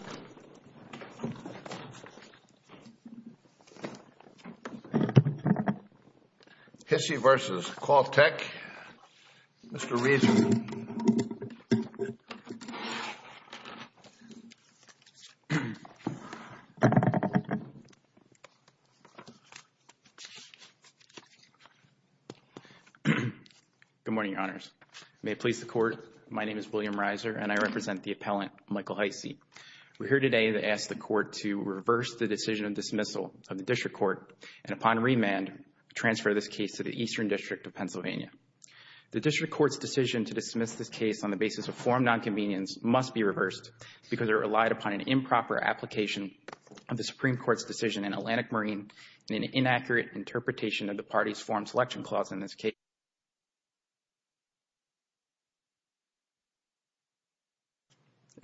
Mr. Hisey v. Quaktek, Mr. Rees Good morning, Your Honors. May it please the Court, my name is William Reiser and I represent the appellant, Michael Hisey. We're here today to ask the Court to reverse the decision of dismissal of the District Court and upon remand, transfer this case to the Eastern District of Pennsylvania. The District Court's decision to dismiss this case on the basis of forum nonconvenience must be reversed because it relied upon an improper application of the Supreme Court's decision in Atlantic Marine and an inaccurate interpretation of the party's forum selection clause in this case.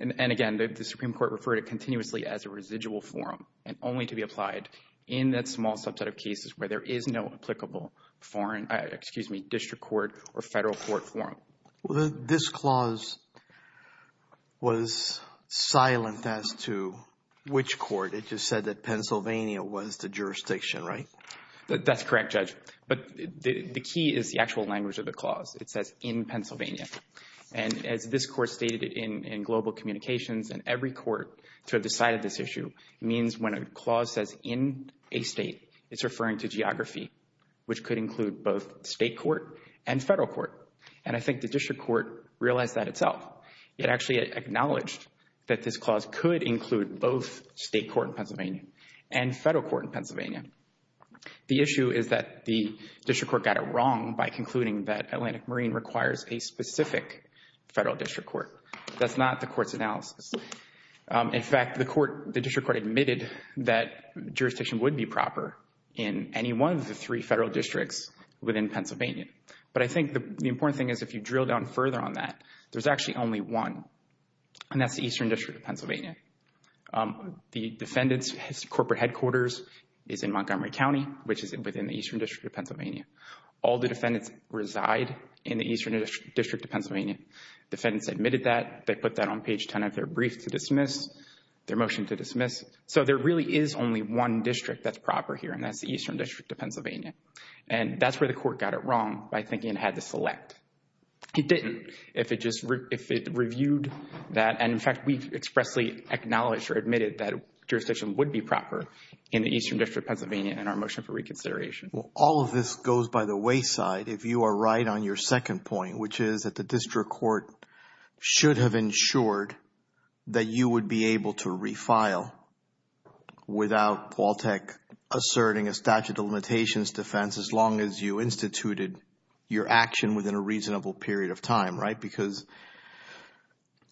And again, the Supreme Court referred it continuously as a residual forum and only to be applied in that small subset of cases where there is no applicable foreign, excuse me, District Court or Federal Court forum. This clause was silent as to which court. It just said that Pennsylvania was the jurisdiction, right? That's correct, Judge. But the key is the actual language of the clause. It says, in Pennsylvania. And as this Court stated in Global Communications, in every court to have decided this issue means when a clause says in a state, it's referring to geography, which could include both State Court and Federal Court. And I think the District Court realized that itself. It actually acknowledged that this clause could include both State Court in Pennsylvania and Federal Court in Pennsylvania. The issue is that the District Court got it wrong by concluding that Atlantic Marine requires a specific Federal District Court. That's not the Court's analysis. In fact, the Court, the District Court admitted that jurisdiction would be proper in any one of the three Federal Districts within Pennsylvania. But I think the important thing is if you drill down further on that, there's actually only one, and that's the Eastern District of Pennsylvania. The defendant's corporate headquarters is in Montgomery County, which is within the Eastern District of Pennsylvania. All the defendants reside in the Eastern District of Pennsylvania. Defendants admitted that. They put that on page 10 of their brief to dismiss, their motion to dismiss. So there really is only one district that's proper here, and that's the Eastern District of Pennsylvania. And that's where the Court got it wrong by thinking it had to select. It didn't, if it just, if it reviewed that. And in fact, we expressly acknowledged or admitted that jurisdiction would be proper in the Eastern District of Pennsylvania in our motion for reconsideration. Well, all of this goes by the wayside if you are right on your second point, which is that the District Court should have ensured that you would be able to refile without Qualtech asserting a statute of limitations defense as long as you instituted your action within a reasonable period of time, right? Because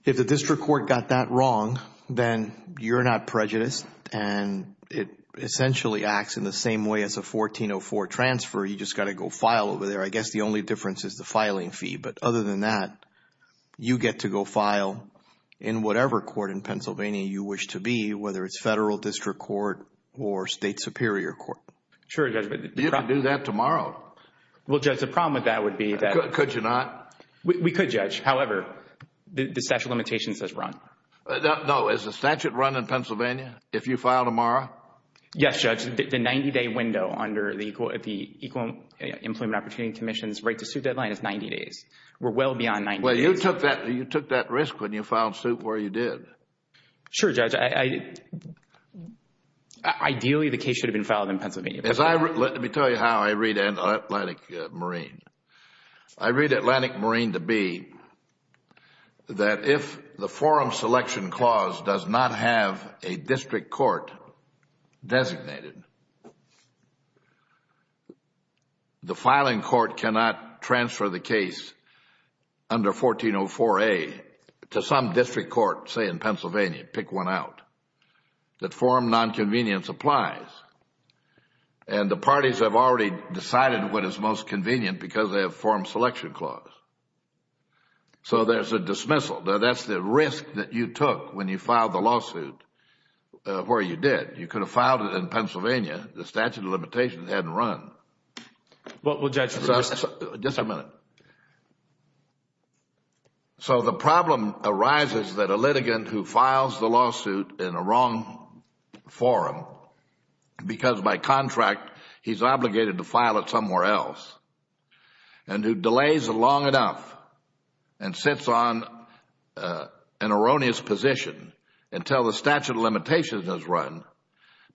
if the District Court got that wrong, then you're not prejudiced, and it essentially acts in the same way as a 1404 transfer. You just got to go file over there. I guess the only difference is the filing fee. But other than that, you get to go file in whatever court in Pennsylvania you wish to be, whether it's Federal District Court or State Superior Court. Sure, Judge. You can do that tomorrow. Well, Judge, the problem with that would be that... Could you not? We could, Judge. However, the statute of limitations does run. No. Is the statute run in Pennsylvania if you file tomorrow? Yes, Judge. The 90-day window under the Equal Employment Opportunity Commission's right to suit deadline is 90 days. We're well beyond 90 days. Well, you took that risk when you filed suit where you did. Sure, Judge. Ideally, the case should have been filed in Pennsylvania. Let me tell you how I read Atlantic Marine. I read Atlantic Marine to be that if the forum selection clause does not have a District Court designated, the filing court cannot transfer the case under 1404A to some District Court, say in Pennsylvania, pick one out. The forum nonconvenience applies. And the parties have already decided what is most convenient because they have forum selection clause. So there's a dismissal. Now, that's the risk that you took when you filed the lawsuit where you did. You could have filed it in Pennsylvania. The statute of limitations hadn't run. Well, Judge. Just a minute. So the problem arises that a litigant who files the lawsuit in a wrong forum because by contract he's obligated to file it somewhere else and who delays long enough and sits on an erroneous position until the statute of limitations has run,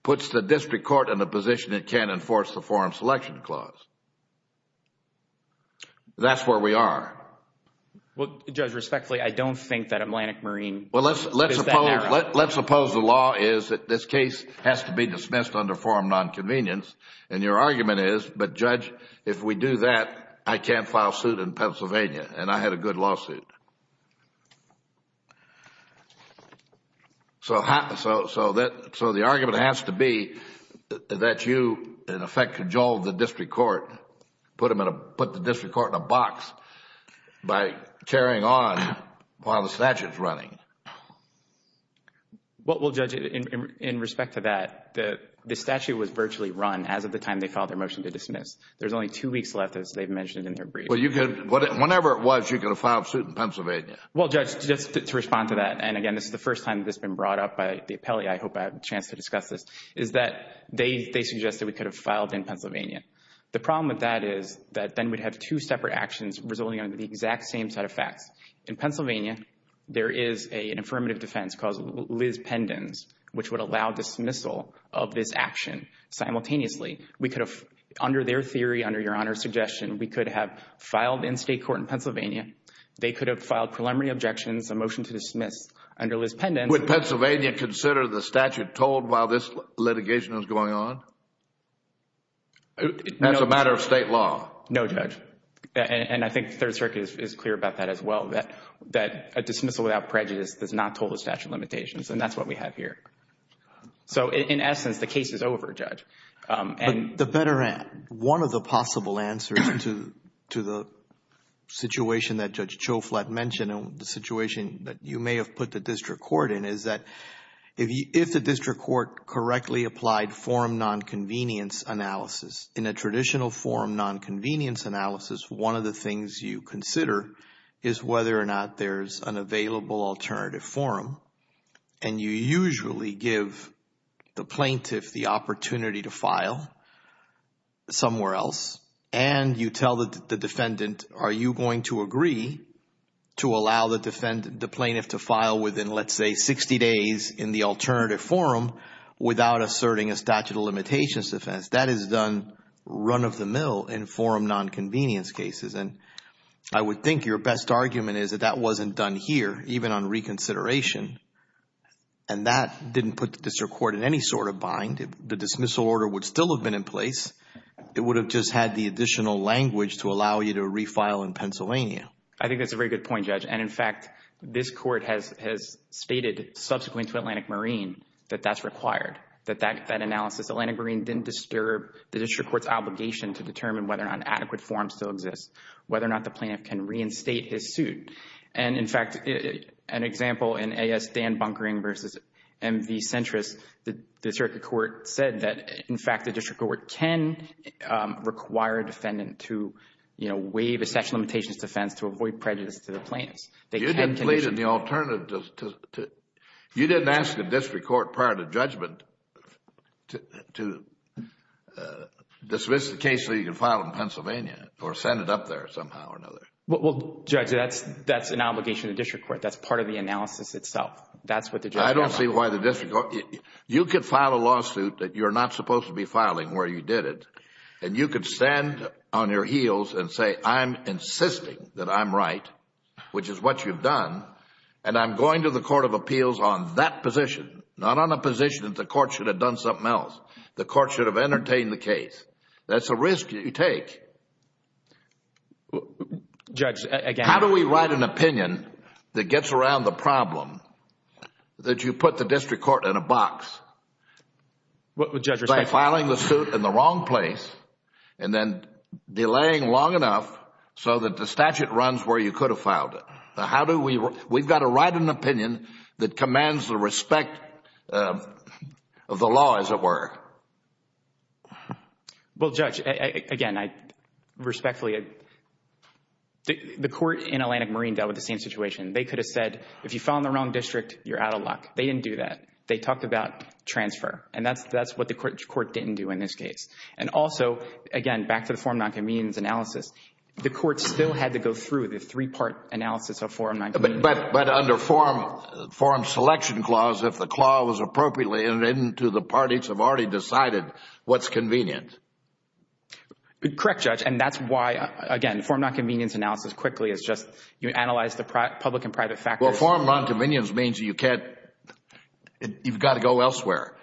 puts the District Court in a position it can't enforce the forum selection clause. That's where we are. Well, Judge, respectfully, I don't think that Atlantic Marine is that narrow. Let's suppose the law is that this case has to be dismissed under forum nonconvenience and your argument is, but Judge, if we do that, I can't file suit in Pennsylvania and I had a good lawsuit. So the argument has to be that you, in effect, cajoled the District Court, put the District Court in a box by carrying on while the statute is running. Well, Judge, in respect to that, the statute was virtually run as of the time they filed their motion to dismiss. There's only two weeks left, as they've mentioned in their brief. Well, you could, whenever it was, you could have filed suit in Pennsylvania. Well, Judge, just to respond to that, and again, this is the first time this has been brought up by the appellee, I hope I have a chance to discuss this, is that they suggested we could have filed in Pennsylvania. The problem with that is that then we'd have two separate actions resulting out of the exact same set of facts. In Pennsylvania, there is an affirmative defense called Liz Pendens, which would allow dismissal of this action simultaneously. We could have, under their theory, under your Honor's suggestion, we could have filed in state court in Pennsylvania. They could have filed preliminary objections, a motion to dismiss under Liz Pendens. Would Pennsylvania consider the statute told while this litigation is going on? That's a matter of state law. No, Judge, and I think the Third Circuit is clear about that as well, that a dismissal without prejudice does not toll the statute of limitations, and that's what we have here. So, in essence, the case is over, Judge. The better, one of the possible answers to the situation that Judge Choflat mentioned, and the situation that you may have put the district court in, is that if the district court correctly applied forum nonconvenience analysis, in a traditional forum nonconvenience analysis, one of the things you consider is whether or not there's an available alternative forum, and you usually give the plaintiff the opportunity to file somewhere else, and you tell the defendant, are you going to agree to allow the plaintiff to file within, let's say, 60 days in the alternative forum without asserting a statute of limitations defense? That is done run of the mill in forum nonconvenience cases, and I would think your best argument is that that wasn't done here, even on reconsideration, and that didn't put the district court in any sort of bind. The dismissal order would still have been in place. It would have just had the additional language to allow you to refile in Pennsylvania. I think that's a very good point, Judge, and in fact, this court has stated subsequently to Atlantic Marine that that's required, that that analysis, Atlantic Marine didn't disturb the district court's obligation to determine whether or not an adequate forum still exists, whether or not the plaintiff can reinstate his suit, and in fact, an example in A.S. Dan Bunkering versus M.V. Centris, the district court said that, in fact, the district court can require a defendant to waive a statute of limitations defense to avoid prejudice to the plaintiff. You didn't plead in the alternative. You didn't ask the district court prior to judgment to dismiss the case so you can file in Pennsylvania or send it up there somehow or another. Well, Judge, that's an obligation of the district court. That's part of the analysis itself. That's what the judge... I don't see why the district court... You could file a lawsuit that you're not supposed to be filing where you did it and you could stand on your heels and say, I'm insisting that I'm right, which is what you've done, and I'm going to the court of appeals on that position, not on a position that the court should have done something else. The court should have entertained the case. That's a risk you take. How do we write an opinion that gets around the problem that you put the district court in a box by filing the suit in the wrong place and then delaying long enough so that the statute runs where you could have filed it? How do we... We've got to write an opinion that commands the respect of the law, as it were. Well, Judge, again, I respectfully... The court in Atlantic Marine dealt with the same situation. They could have said, if you file in the wrong district, you're out of luck. They didn't do that. They talked about transfer, and that's what the court didn't do in this case. And also, again, back to the forum non-convenience analysis, the court still had to go through the three-part analysis of forum non-convenience. But under forum selection clause, if the clause was appropriately entered into, the parties have already decided what's convenient. Correct, Judge. And that's why, again, forum non-convenience analysis quickly is just, you analyze the public and private factors. Well, forum non-convenience means you've got to go elsewhere.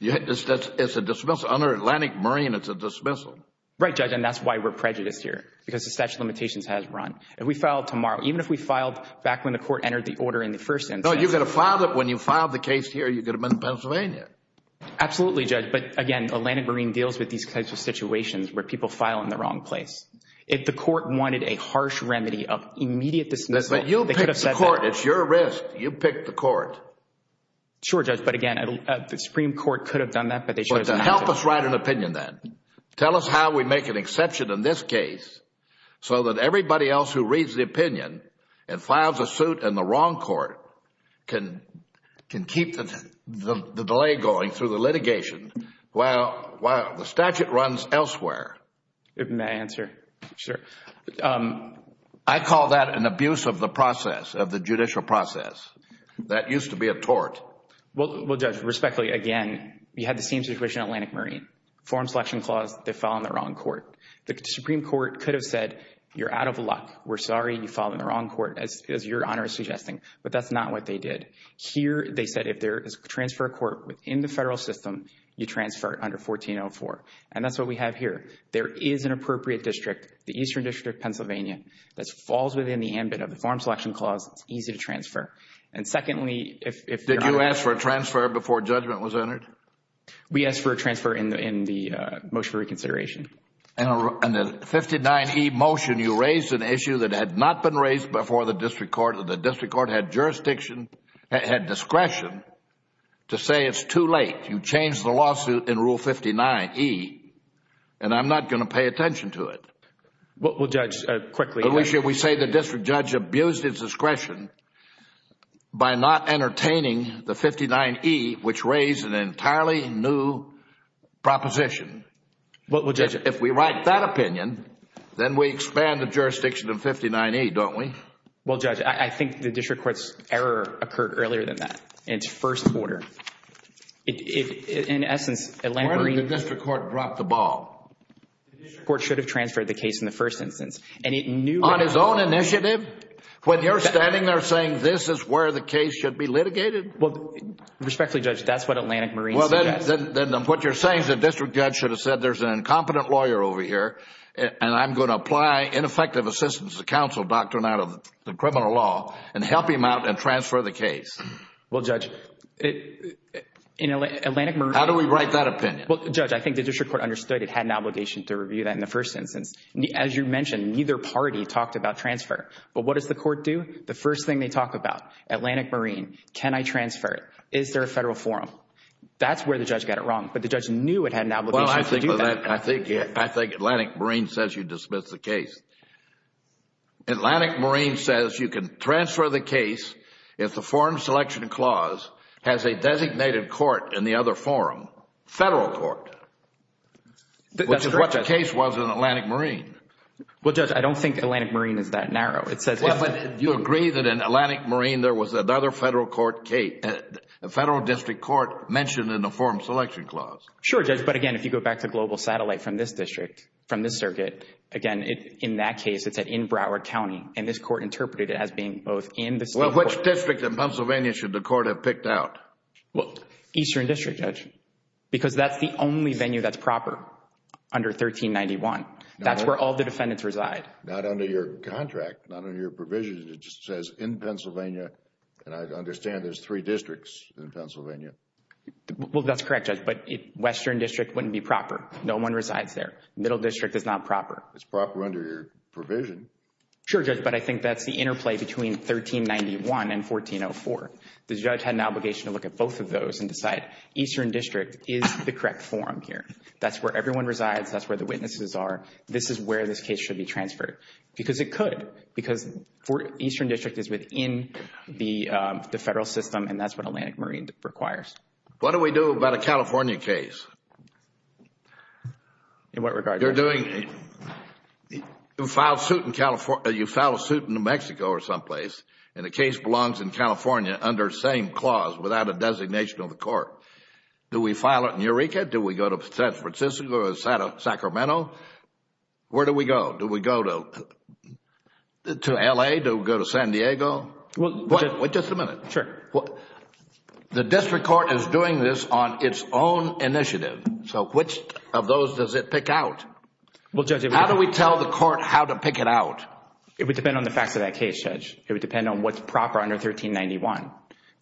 It's a dismissal. Under Atlantic Marine, it's a dismissal. Right, Judge. And that's why we're prejudiced here, because the statute of limitations has run. If we filed tomorrow, even if we filed back when the court entered the order in the first instance... When you filed the case here, you could have been in Pennsylvania. Absolutely, Judge. But again, Atlantic Marine deals with these kinds of situations where people file in the wrong place. If the court wanted a harsh remedy of immediate dismissal, they could have said that. But you picked the court. It's your risk. You picked the court. Sure, Judge. But again, the Supreme Court could have done that, but they shouldn't have done that. Help us write an opinion then. Tell us how we make an exception in this case so that everybody else who reads the opinion and files a suit in the wrong court can keep the delay going through the litigation while the statute runs elsewhere. Open that answer, sir. I call that an abuse of the process, of the judicial process. That used to be a tort. Well, Judge, respectfully, again, we had the same situation in Atlantic Marine. Foreign Selection Clause, they filed in the wrong court. The Supreme Court could have said, you're out of luck. We're sorry. You filed in the wrong court, as your Honor is suggesting. But that's not what they did. Here, they said, if there is a transfer of court within the federal system, you transfer under 1404. And that's what we have here. There is an appropriate district, the Eastern District of Pennsylvania, that falls within the ambit of the Foreign Selection Clause. It's easy to transfer. And secondly, if your Honor... Did you ask for a transfer before judgment was entered? We asked for a transfer in the motion for reconsideration. In the 59E motion, you raised an issue that had not been raised before the district court. The district court had jurisdiction, had discretion, to say it's too late. You changed the lawsuit in Rule 59E, and I'm not going to pay attention to it. Well, Judge, quickly... We say the district judge abused its discretion by not entertaining the 59E, which raised an entirely new proposition. Well, Judge... If we write that opinion, then we expand the jurisdiction of 59E, don't we? Well, Judge, I think the district court's error occurred earlier than that, in its first order. In essence, Atlantic Marine... Why didn't the district court drop the ball? The district court should have transferred the case in the first instance, and it knew... On his own initiative? When you're standing there saying this is where the case should be litigated? Well, respectfully, Judge, that's what Atlantic Marine suggests. Then what you're saying is the district judge should have said, there's an incompetent lawyer over here, and I'm going to apply ineffective assistance to counsel doctrine out of the criminal law and help him out and transfer the case. Well, Judge, in Atlantic Marine... How do we write that opinion? Well, Judge, I think the district court understood it had an obligation to review that in the first instance. As you mentioned, neither party talked about transfer. But what does the court do? The first thing they talk about, Atlantic Marine, can I transfer it? Is there a federal forum? That's where the judge got it wrong. But the judge knew it had an obligation to do that. Well, I think Atlantic Marine says you dismiss the case. Atlantic Marine says you can transfer the case if the forum selection clause has a designated court in the other forum, federal court, which is what the case was in Atlantic Marine. Well, Judge, I don't think Atlantic Marine is that narrow. Well, but you agree that in Atlantic Marine, there was another federal court case, a federal district court mentioned in the forum selection clause. Sure, Judge. But again, if you go back to Global Satellite from this district, from this circuit, again, in that case, it's in Broward County. And this court interpreted it as being both in the state... Well, which district in Pennsylvania should the court have picked out? Eastern District, Judge, because that's the only venue that's proper under 1391. That's where all the defendants reside. Not under your contract, not under your provisions. It just says in Pennsylvania, and I understand there's three districts in Pennsylvania. Well, that's correct, Judge, but Western District wouldn't be proper. No one resides there. Middle District is not proper. It's proper under your provision. Sure, Judge, but I think that's the interplay between 1391 and 1404. The judge had an obligation to look at both of those and decide Eastern District is the correct forum here. That's where everyone resides. That's where the witnesses are. This is where this case should be transferred. Because it could. Because Eastern District is within the federal system and that's what Atlantic Marine requires. What do we do about a California case? In what regard, Judge? You file a suit in New Mexico or some place and the case belongs in California under the same clause without a designation of the court. Do we file it in Eureka? Do we go to San Francisco or Sacramento? Where do we go? Do we go to L.A.? Do we go to San Diego? Wait just a minute. The district court is doing this on its own initiative. So which of those does it pick out? How do we tell the court how to pick it out? It would depend on the facts of that case, Judge. It would depend on what's proper under 1391,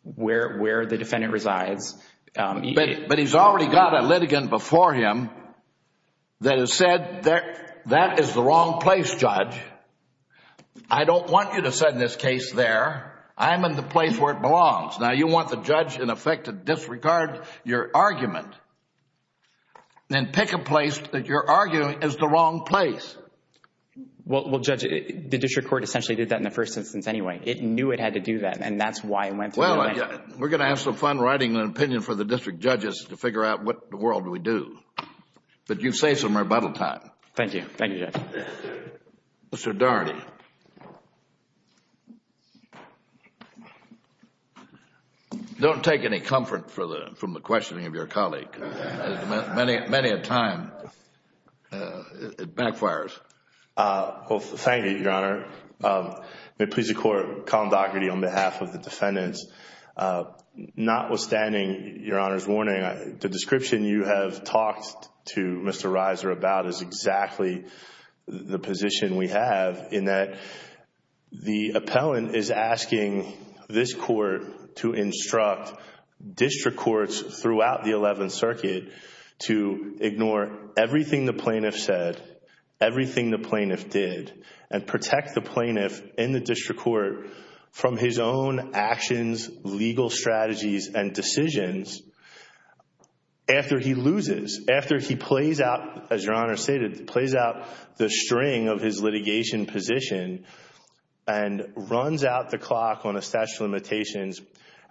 where the defendant resides. But he's already got a litigant before him that has said that that is the wrong place, Judge. I don't want you to sit in this case there. I'm in the place where it belongs. Now, you want the judge in effect to disregard your argument and pick a place that you're arguing is the wrong place. Well, Judge, the district court essentially did that in the first instance anyway. It knew it had to do that and that's why it went to New Mexico. We're going to have some fun writing an opinion for the district judges to figure out what in the world do we do. But you've saved some rebuttal time. Thank you. Thank you, Judge. Mr. Darny. Don't take any comfort from the questioning of your colleague. Many a time, it backfires. Well, thank you, Your Honor. May it please the Court, Colin Daugherty on behalf of the defendants. Notwithstanding, Your Honor's warning, the description you have talked to Mr. Reiser about is exactly the position we have in that the appellant is asking this court to instruct district courts throughout the 11th Circuit to ignore everything the plaintiff said, everything the plaintiff did, and protect the plaintiff in the district court from his own actions, legal strategies, and decisions after he loses, after he plays out, as Your Honor stated, plays out the string of his litigation position and runs out the clock on a statute of limitations.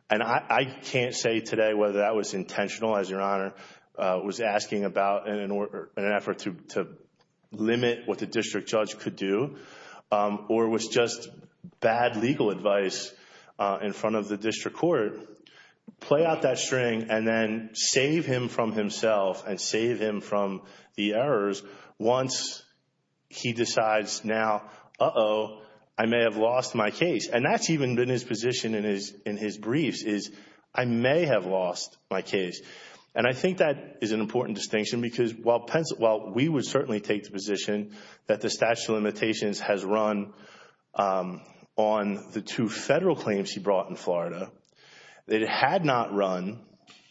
And I can't say today whether that was intentional, as Your Honor was asking about in an effort to limit what the district judge could do, or was just bad legal advice in front of the district court. Play out that string and then save him from himself and save him from the errors once he decides now, uh-oh, I may have lost my case. And that's even been his position in his briefs is, I may have lost my case. And I think that is an important distinction because while we would certainly take the position that the statute of limitations has run on the two federal claims he brought in Florida, that it had not run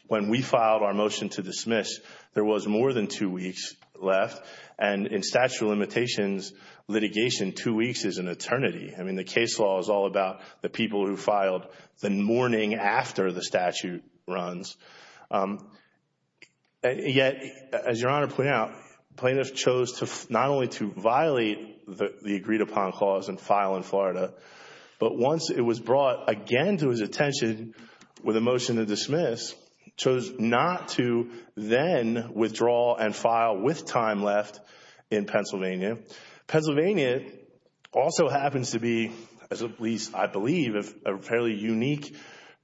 when we filed our motion to dismiss, there was more than two weeks left. And in statute of limitations litigation, two weeks is an eternity. I mean, the case law is all about the people who filed the morning after the statute runs. And yet, as Your Honor pointed out, plaintiffs chose not only to violate the agreed upon clause and file in Florida, but once it was brought again to his attention with a motion to dismiss, chose not to then withdraw and file with time left in Pennsylvania. Pennsylvania also happens to be, at least I believe, a fairly unique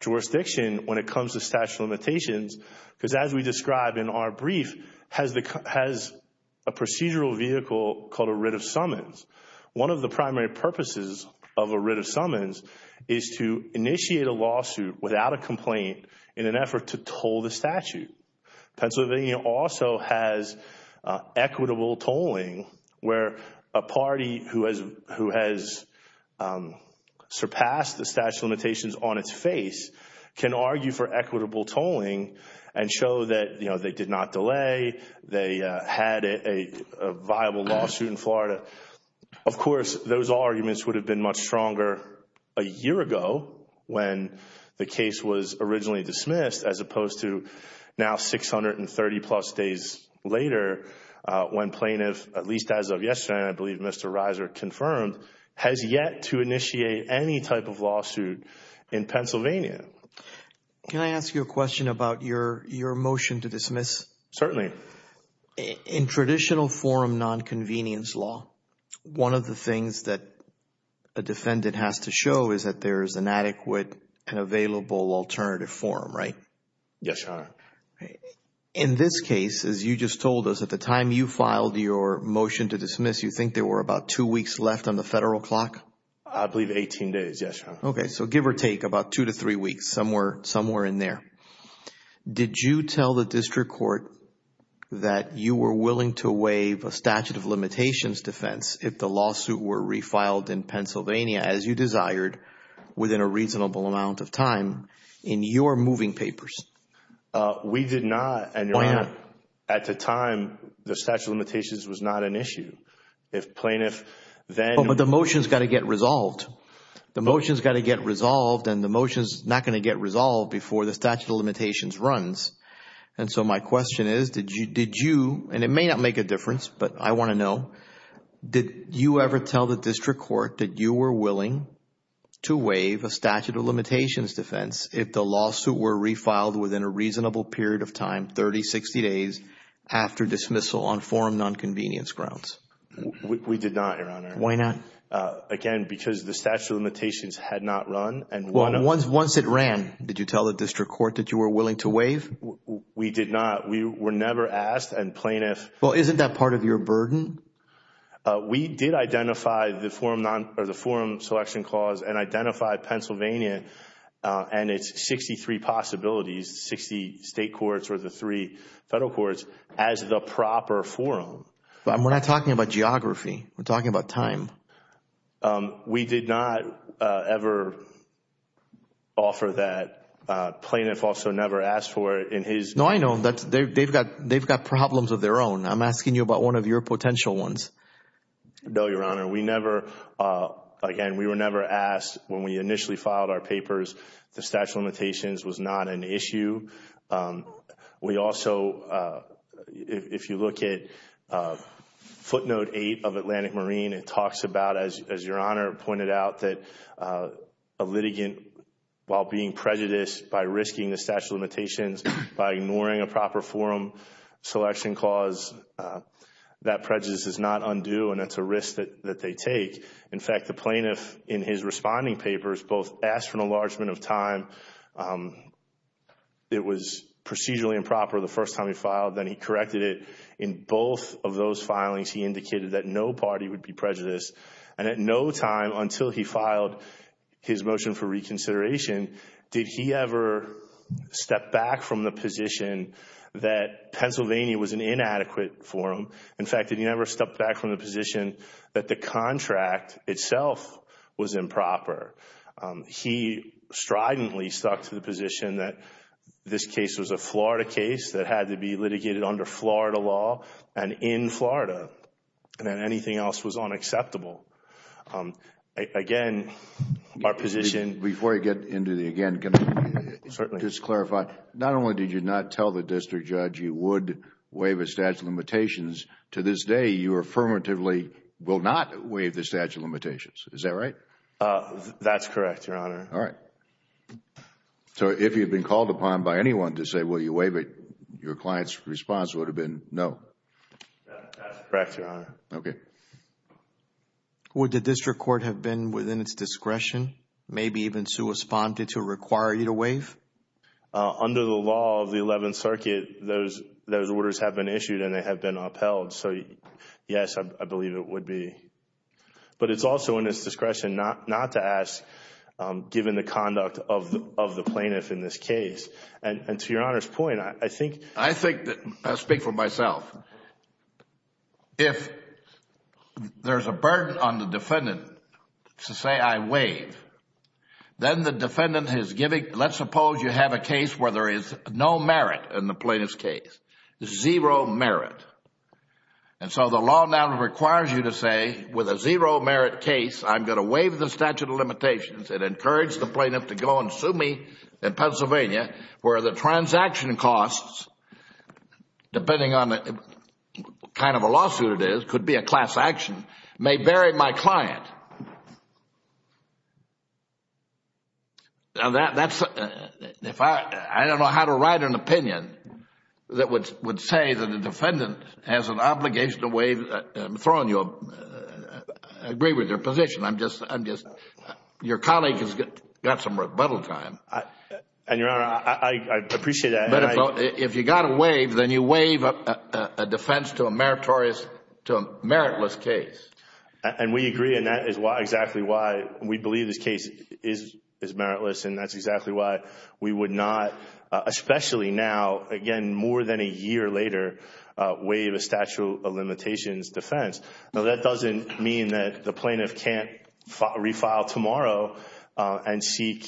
jurisdiction when it comes to statute of limitations because as we described in our brief, has a procedural vehicle called a writ of summons. One of the primary purposes of a writ of summons is to initiate a lawsuit without a complaint in an effort to toll the statute. Pennsylvania also has equitable tolling where a party who has surpassed the statute of limitations on its face can argue for equitable tolling and show that they did not delay, they had a viable lawsuit in Florida. Of course, those arguments would have been much stronger a year ago when the case was originally dismissed as opposed to now 630 plus days later when plaintiff, at least as of yesterday, I believe Mr. Reiser confirmed, has yet to initiate any type of lawsuit in Pennsylvania. Can I ask you a question about your motion to dismiss? Certainly. In traditional forum nonconvenience law, one of the things that a defendant has to show is that there is an adequate and available alternative form, right? Yes, Your Honor. Okay. In this case, as you just told us, at the time you filed your motion to dismiss, you think there were about two weeks left on the federal clock? I believe 18 days, yes, Your Honor. Okay, so give or take about two to three weeks, somewhere in there. Did you tell the district court that you were willing to waive a statute of limitations defense if the lawsuit were refiled in Pennsylvania as you desired within a reasonable amount of time in your moving papers? We did not, and Your Honor, at the time, the statute of limitations was not an issue. If plaintiff then... But the motion has got to get resolved. The motion has got to get resolved and the motion is not going to get resolved before the statute of limitations runs. And so my question is, did you, and it may not make a difference, but I want to know, did you ever tell the district court that you were willing to waive a statute of limitations defense if the lawsuit were refiled within a reasonable period of time, 30, 60 days, after dismissal on forum non-convenience grounds? We did not, Your Honor. Why not? Again, because the statute of limitations had not run and... Well, once it ran, did you tell the district court that you were willing to waive? We did not. We were never asked and plaintiff... Well, isn't that part of your burden? We did identify the forum selection clause and identify Pennsylvania and its 63 possibilities, 60 state courts or the three federal courts, as the proper forum. But we're not talking about geography. We're talking about time. We did not ever offer that. Plaintiff also never asked for it in his... No, I know. They've got problems of their own. I'm asking you about one of your potential ones. No, Your Honor. We never... Again, we were never asked when we initially filed our papers. The statute of limitations was not an issue. We also... If you look at footnote 8 of Atlantic Marine, it talks about, as Your Honor pointed out, that a litigant, while being prejudiced by risking the statute of limitations by ignoring a proper forum selection clause, that prejudice is not undue and it's a risk that they take. In fact, the plaintiff, in his responding papers, both asked for an enlargement of time. It was procedurally improper the first time he filed. Then he corrected it. In both of those filings, he indicated that no party would be prejudiced. At no time, until he filed his motion for reconsideration, did he ever step back from the position that Pennsylvania was an inadequate forum. In fact, did he ever step back from the position that the contract itself was improper? He stridently stuck to the position that this case was a Florida case that had to be litigated under Florida law and in Florida and that anything else was unacceptable. Again, our position... Before you get into the again, can I just clarify, not only did you not tell the district judge you would waive a statute of limitations, to this day, you affirmatively will not waive the statute of limitations. Is that right? That's correct, Your Honor. All right. If you'd been called upon by anyone to say, will you waive it? Your client's response would have been no. That's correct, Your Honor. Okay. Would the district court have been within its discretion, maybe even corresponded to require you to waive? Under the law of the 11th Circuit, those orders have been issued and they have been upheld. Yes, I believe it would be. It's also in its discretion not to ask, given the conduct of the plaintiff in this case. To Your Honor's point, I think... I think that... I'll speak for myself. If there's a burden on the defendant to say, I waive, then the defendant is giving... Let's suppose you have a case where there is no merit in the plaintiff's case, zero merit. And so the law now requires you to say, with a zero merit case, I'm going to waive the statute of limitations and encourage the plaintiff to go and sue me in Pennsylvania, where the transaction costs, depending on what kind of a lawsuit it is, could be a class action, may vary my client. Now, that's... I don't know how to write an opinion that would say that a defendant has an obligation to waive... I'm throwing you... I agree with your position. I'm just... Your colleague has got some rebuttal time. And Your Honor, I appreciate that. But if you've got to waive, then you waive a defense to a meritless case. And we agree. And that is exactly why we believe this case is meritless. And that's exactly why we would not, especially now, again, more than a year later, waive a statute of limitations defense. Now, that doesn't mean that the plaintiff can't refile tomorrow and seek...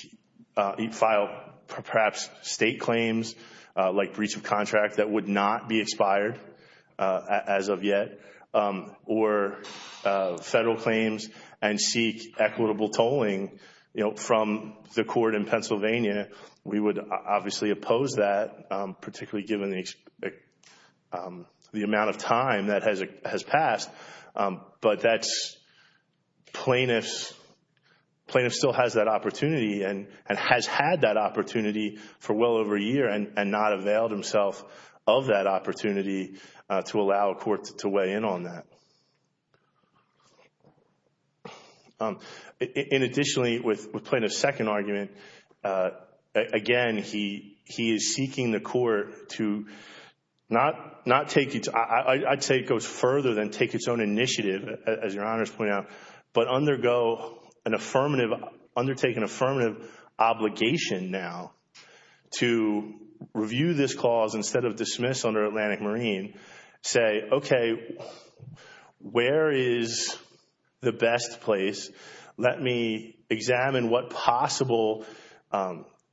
file, perhaps, state claims, like breach of contract, that would not be expired as of yet. Or federal claims and seek equitable tolling from the court in Pennsylvania. We would obviously oppose that, particularly given the amount of time that has passed. But that's plaintiff's... plaintiff still has that opportunity and has had that opportunity for well over a year and not availed himself of that opportunity to allow a court to weigh in on that. And additionally, with Plaintiff's second argument, again, he is seeking the court to not take its... I'd say it goes further than take its own initiative, as Your Honor's pointing out, but undergo an affirmative... undertake an affirmative obligation now to review this say, okay, where is the best place? Let me examine what possible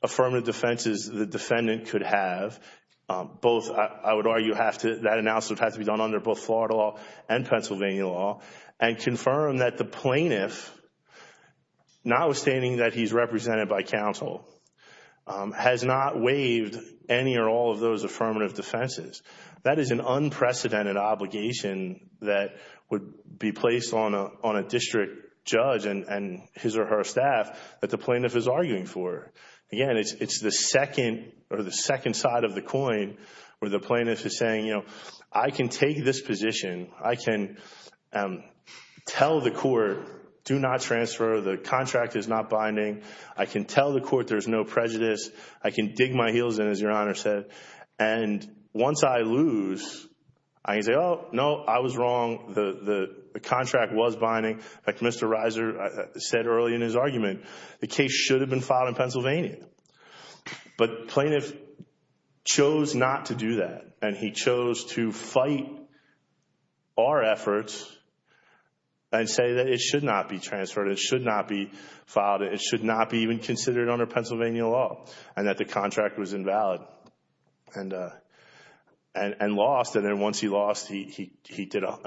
affirmative defenses the defendant could have. Both, I would argue, have to... that announcement would have to be done under both Florida law and Pennsylvania law and confirm that the plaintiff, notwithstanding that he's represented by counsel, has not waived any or all of those affirmative defenses. That is an unprecedented obligation that would be placed on a district judge and his or her staff that the plaintiff is arguing for. Again, it's the second or the second side of the coin where the plaintiff is saying, you know, I can take this position. I can tell the court, do not transfer. The contract is not binding. I can tell the court there's no prejudice. I can dig my heels in, as Your Honor said. And once I lose, I can say, oh, no, I was wrong. The contract was binding. Like Mr. Reiser said early in his argument, the case should have been filed in Pennsylvania. But plaintiff chose not to do that and he chose to fight our efforts and say that it should not be transferred. It should not be filed. It should not be even considered under Pennsylvania law and that the contract was invalid. And lost. And then once he lost, he did a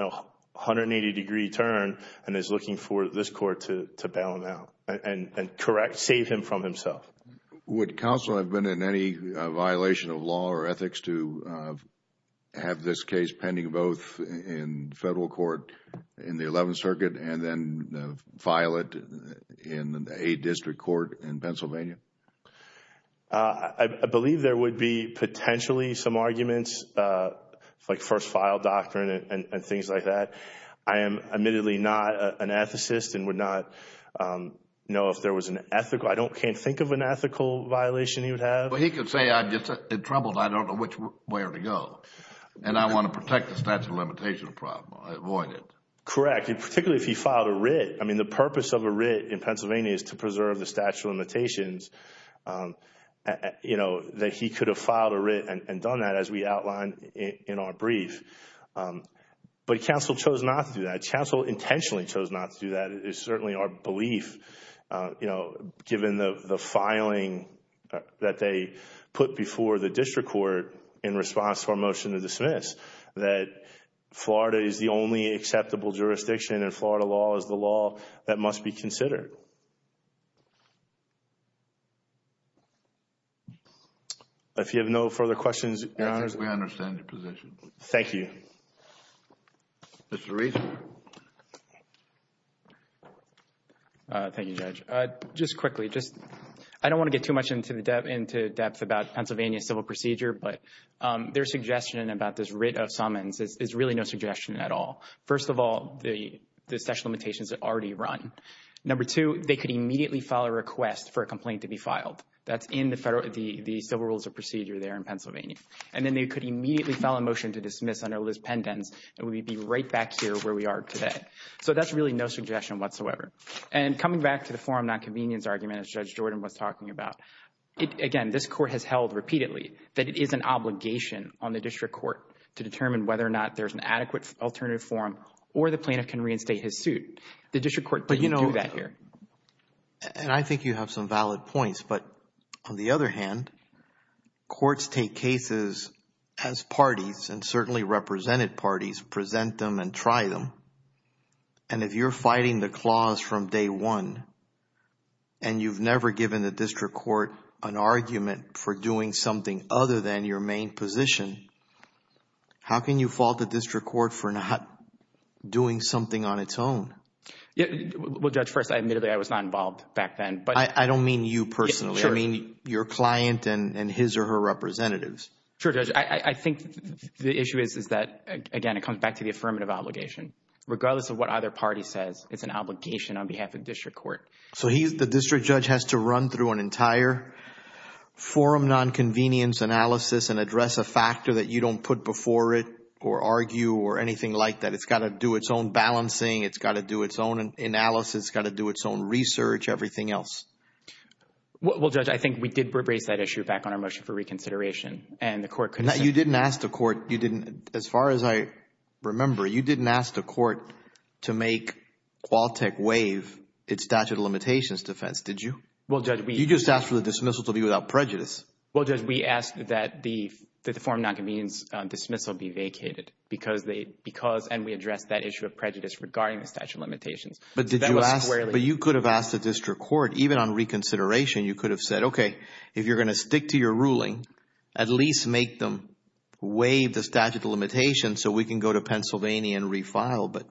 180-degree turn and is looking for this court to bail him out and correct, save him from himself. – Would counsel have been in any violation of law or ethics to have this case pending both in federal court in the 11th Circuit and then file it in a district court in Pennsylvania? – I believe there would be potentially some arguments, like first file doctrine and things like that. I am admittedly not an ethicist and would not know if there was an ethical. I can't think of an ethical violation he would have. – But he could say, I'm just in trouble. I don't know which way to go. And I want to protect the statute of limitations problem. I avoid it. – Correct. Particularly if he filed a writ. The purpose of a writ in Pennsylvania is to preserve the statute of limitations. That he could have filed a writ and done that as we outlined in our brief. But counsel chose not to do that. Counsel intentionally chose not to do that. It is certainly our belief, given the filing that they put before the district court in response to our motion to dismiss, that Florida is the only acceptable jurisdiction and Florida law is the law that must be considered. If you have no further questions, Your Honor. – I think we understand your position. – Thank you. – Mr. Rees. – Thank you, Judge. Just quickly, I don't want to get too much into depth about Pennsylvania's civil procedure, but their suggestion about this writ of summons is really no suggestion at all. First of all, the statute of limitations is already run. Number two, they could immediately file a request for a complaint to be filed. That's in the civil rules of procedure there in Pennsylvania. And then they could immediately file a motion to dismiss under Liz Pendens, and we'd be right back here where we are today. So that's really no suggestion whatsoever. And coming back to the forum nonconvenience argument, as Judge Jordan was talking about, again, this court has held repeatedly that it is an obligation on the district court to determine whether or not there's an adequate alternative forum or the plaintiff can reinstate his suit. The district court didn't do that here. – But you know, and I think you have some valid points, but on the other hand, courts take cases as parties and certainly represented parties present them and try them. And if you're fighting the clause from day one and you've never given the district court an argument for doing something other than your main position, how can you fault the district court for not doing something on its own? – Yeah, well, Judge, first, admittedly, I was not involved back then. – I don't mean you personally. I mean your client and his or her representatives. – Sure, Judge. I think the issue is that, again, it comes back to the affirmative obligation. Regardless of what other party says, it's an obligation on behalf of district court. So the district judge has to run through an entire forum, non-convenience analysis and address a factor that you don't put before it or argue or anything like that. It's got to do its own balancing. It's got to do its own analysis. It's got to do its own research, everything else. – Well, Judge, I think we did raise that issue back on our motion for reconsideration. And the court could have said... – No, you didn't ask the court. You didn't, as far as I remember, you didn't ask the court to make Qualtech waive its statute of limitations defense, did you? – Well, Judge, we... – You just asked for the dismissal to be without prejudice. – Well, Judge, we asked that the forum non-convenience dismissal be vacated because they... because... and we addressed that issue of prejudice regarding the statute of limitations. – But did you ask... – That was squarely... – But you could have asked the district court, even on reconsideration, you could have said, okay, if you're going to stick to your ruling, at least make them waive the statute of limitations so we can go to Pennsylvania and refile. But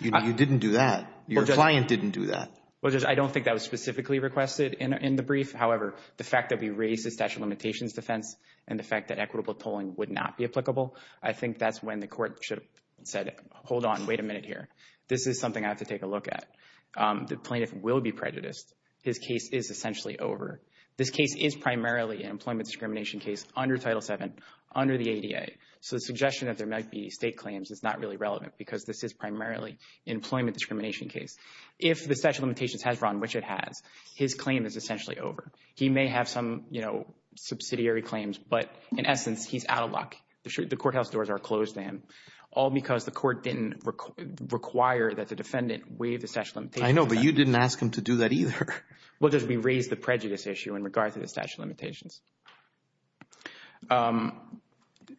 you didn't do that. Your client didn't do that. – Well, Judge, I don't think that was specifically requested in the brief. However, the fact that we raised the statute of limitations defense and the fact that equitable tolling would not be applicable, I think that's when the court should have said, hold on, wait a minute here. This is something I have to take a look at. The plaintiff will be prejudiced. His case is essentially over. This case is primarily an employment discrimination case under Title VII, under the ADA. So the suggestion that there might be state claims is not really relevant because this is primarily an employment discrimination case. If the statute of limitations has run, which it has, his claim is essentially over. He may have some, you know, subsidiary claims, but in essence, he's out of luck. The courthouse doors are closed to him, all because the court didn't require that the defendant waive the statute of limitations. – I know, but you didn't ask him to do that either. – Well, Judge, we raised the prejudice issue in regard to the statute of limitations.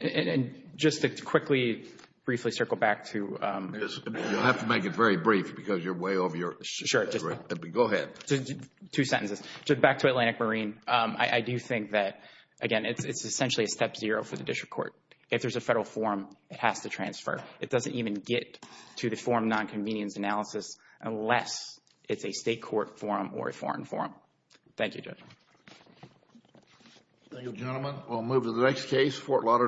And just to quickly, briefly circle back to... – You'll have to make it very brief because you're way over your... – Sure. – Go ahead. – Two sentences. Back to Atlantic Marine, I do think that, again, it's essentially a step zero for the district court. If there's a federal form, it has to transfer. It doesn't even get to the form non-convenience analysis unless it's a state court form or a foreign form. Thank you, Judge. – Thank you, gentlemen. We'll move to the next case, Fort Lauderdale.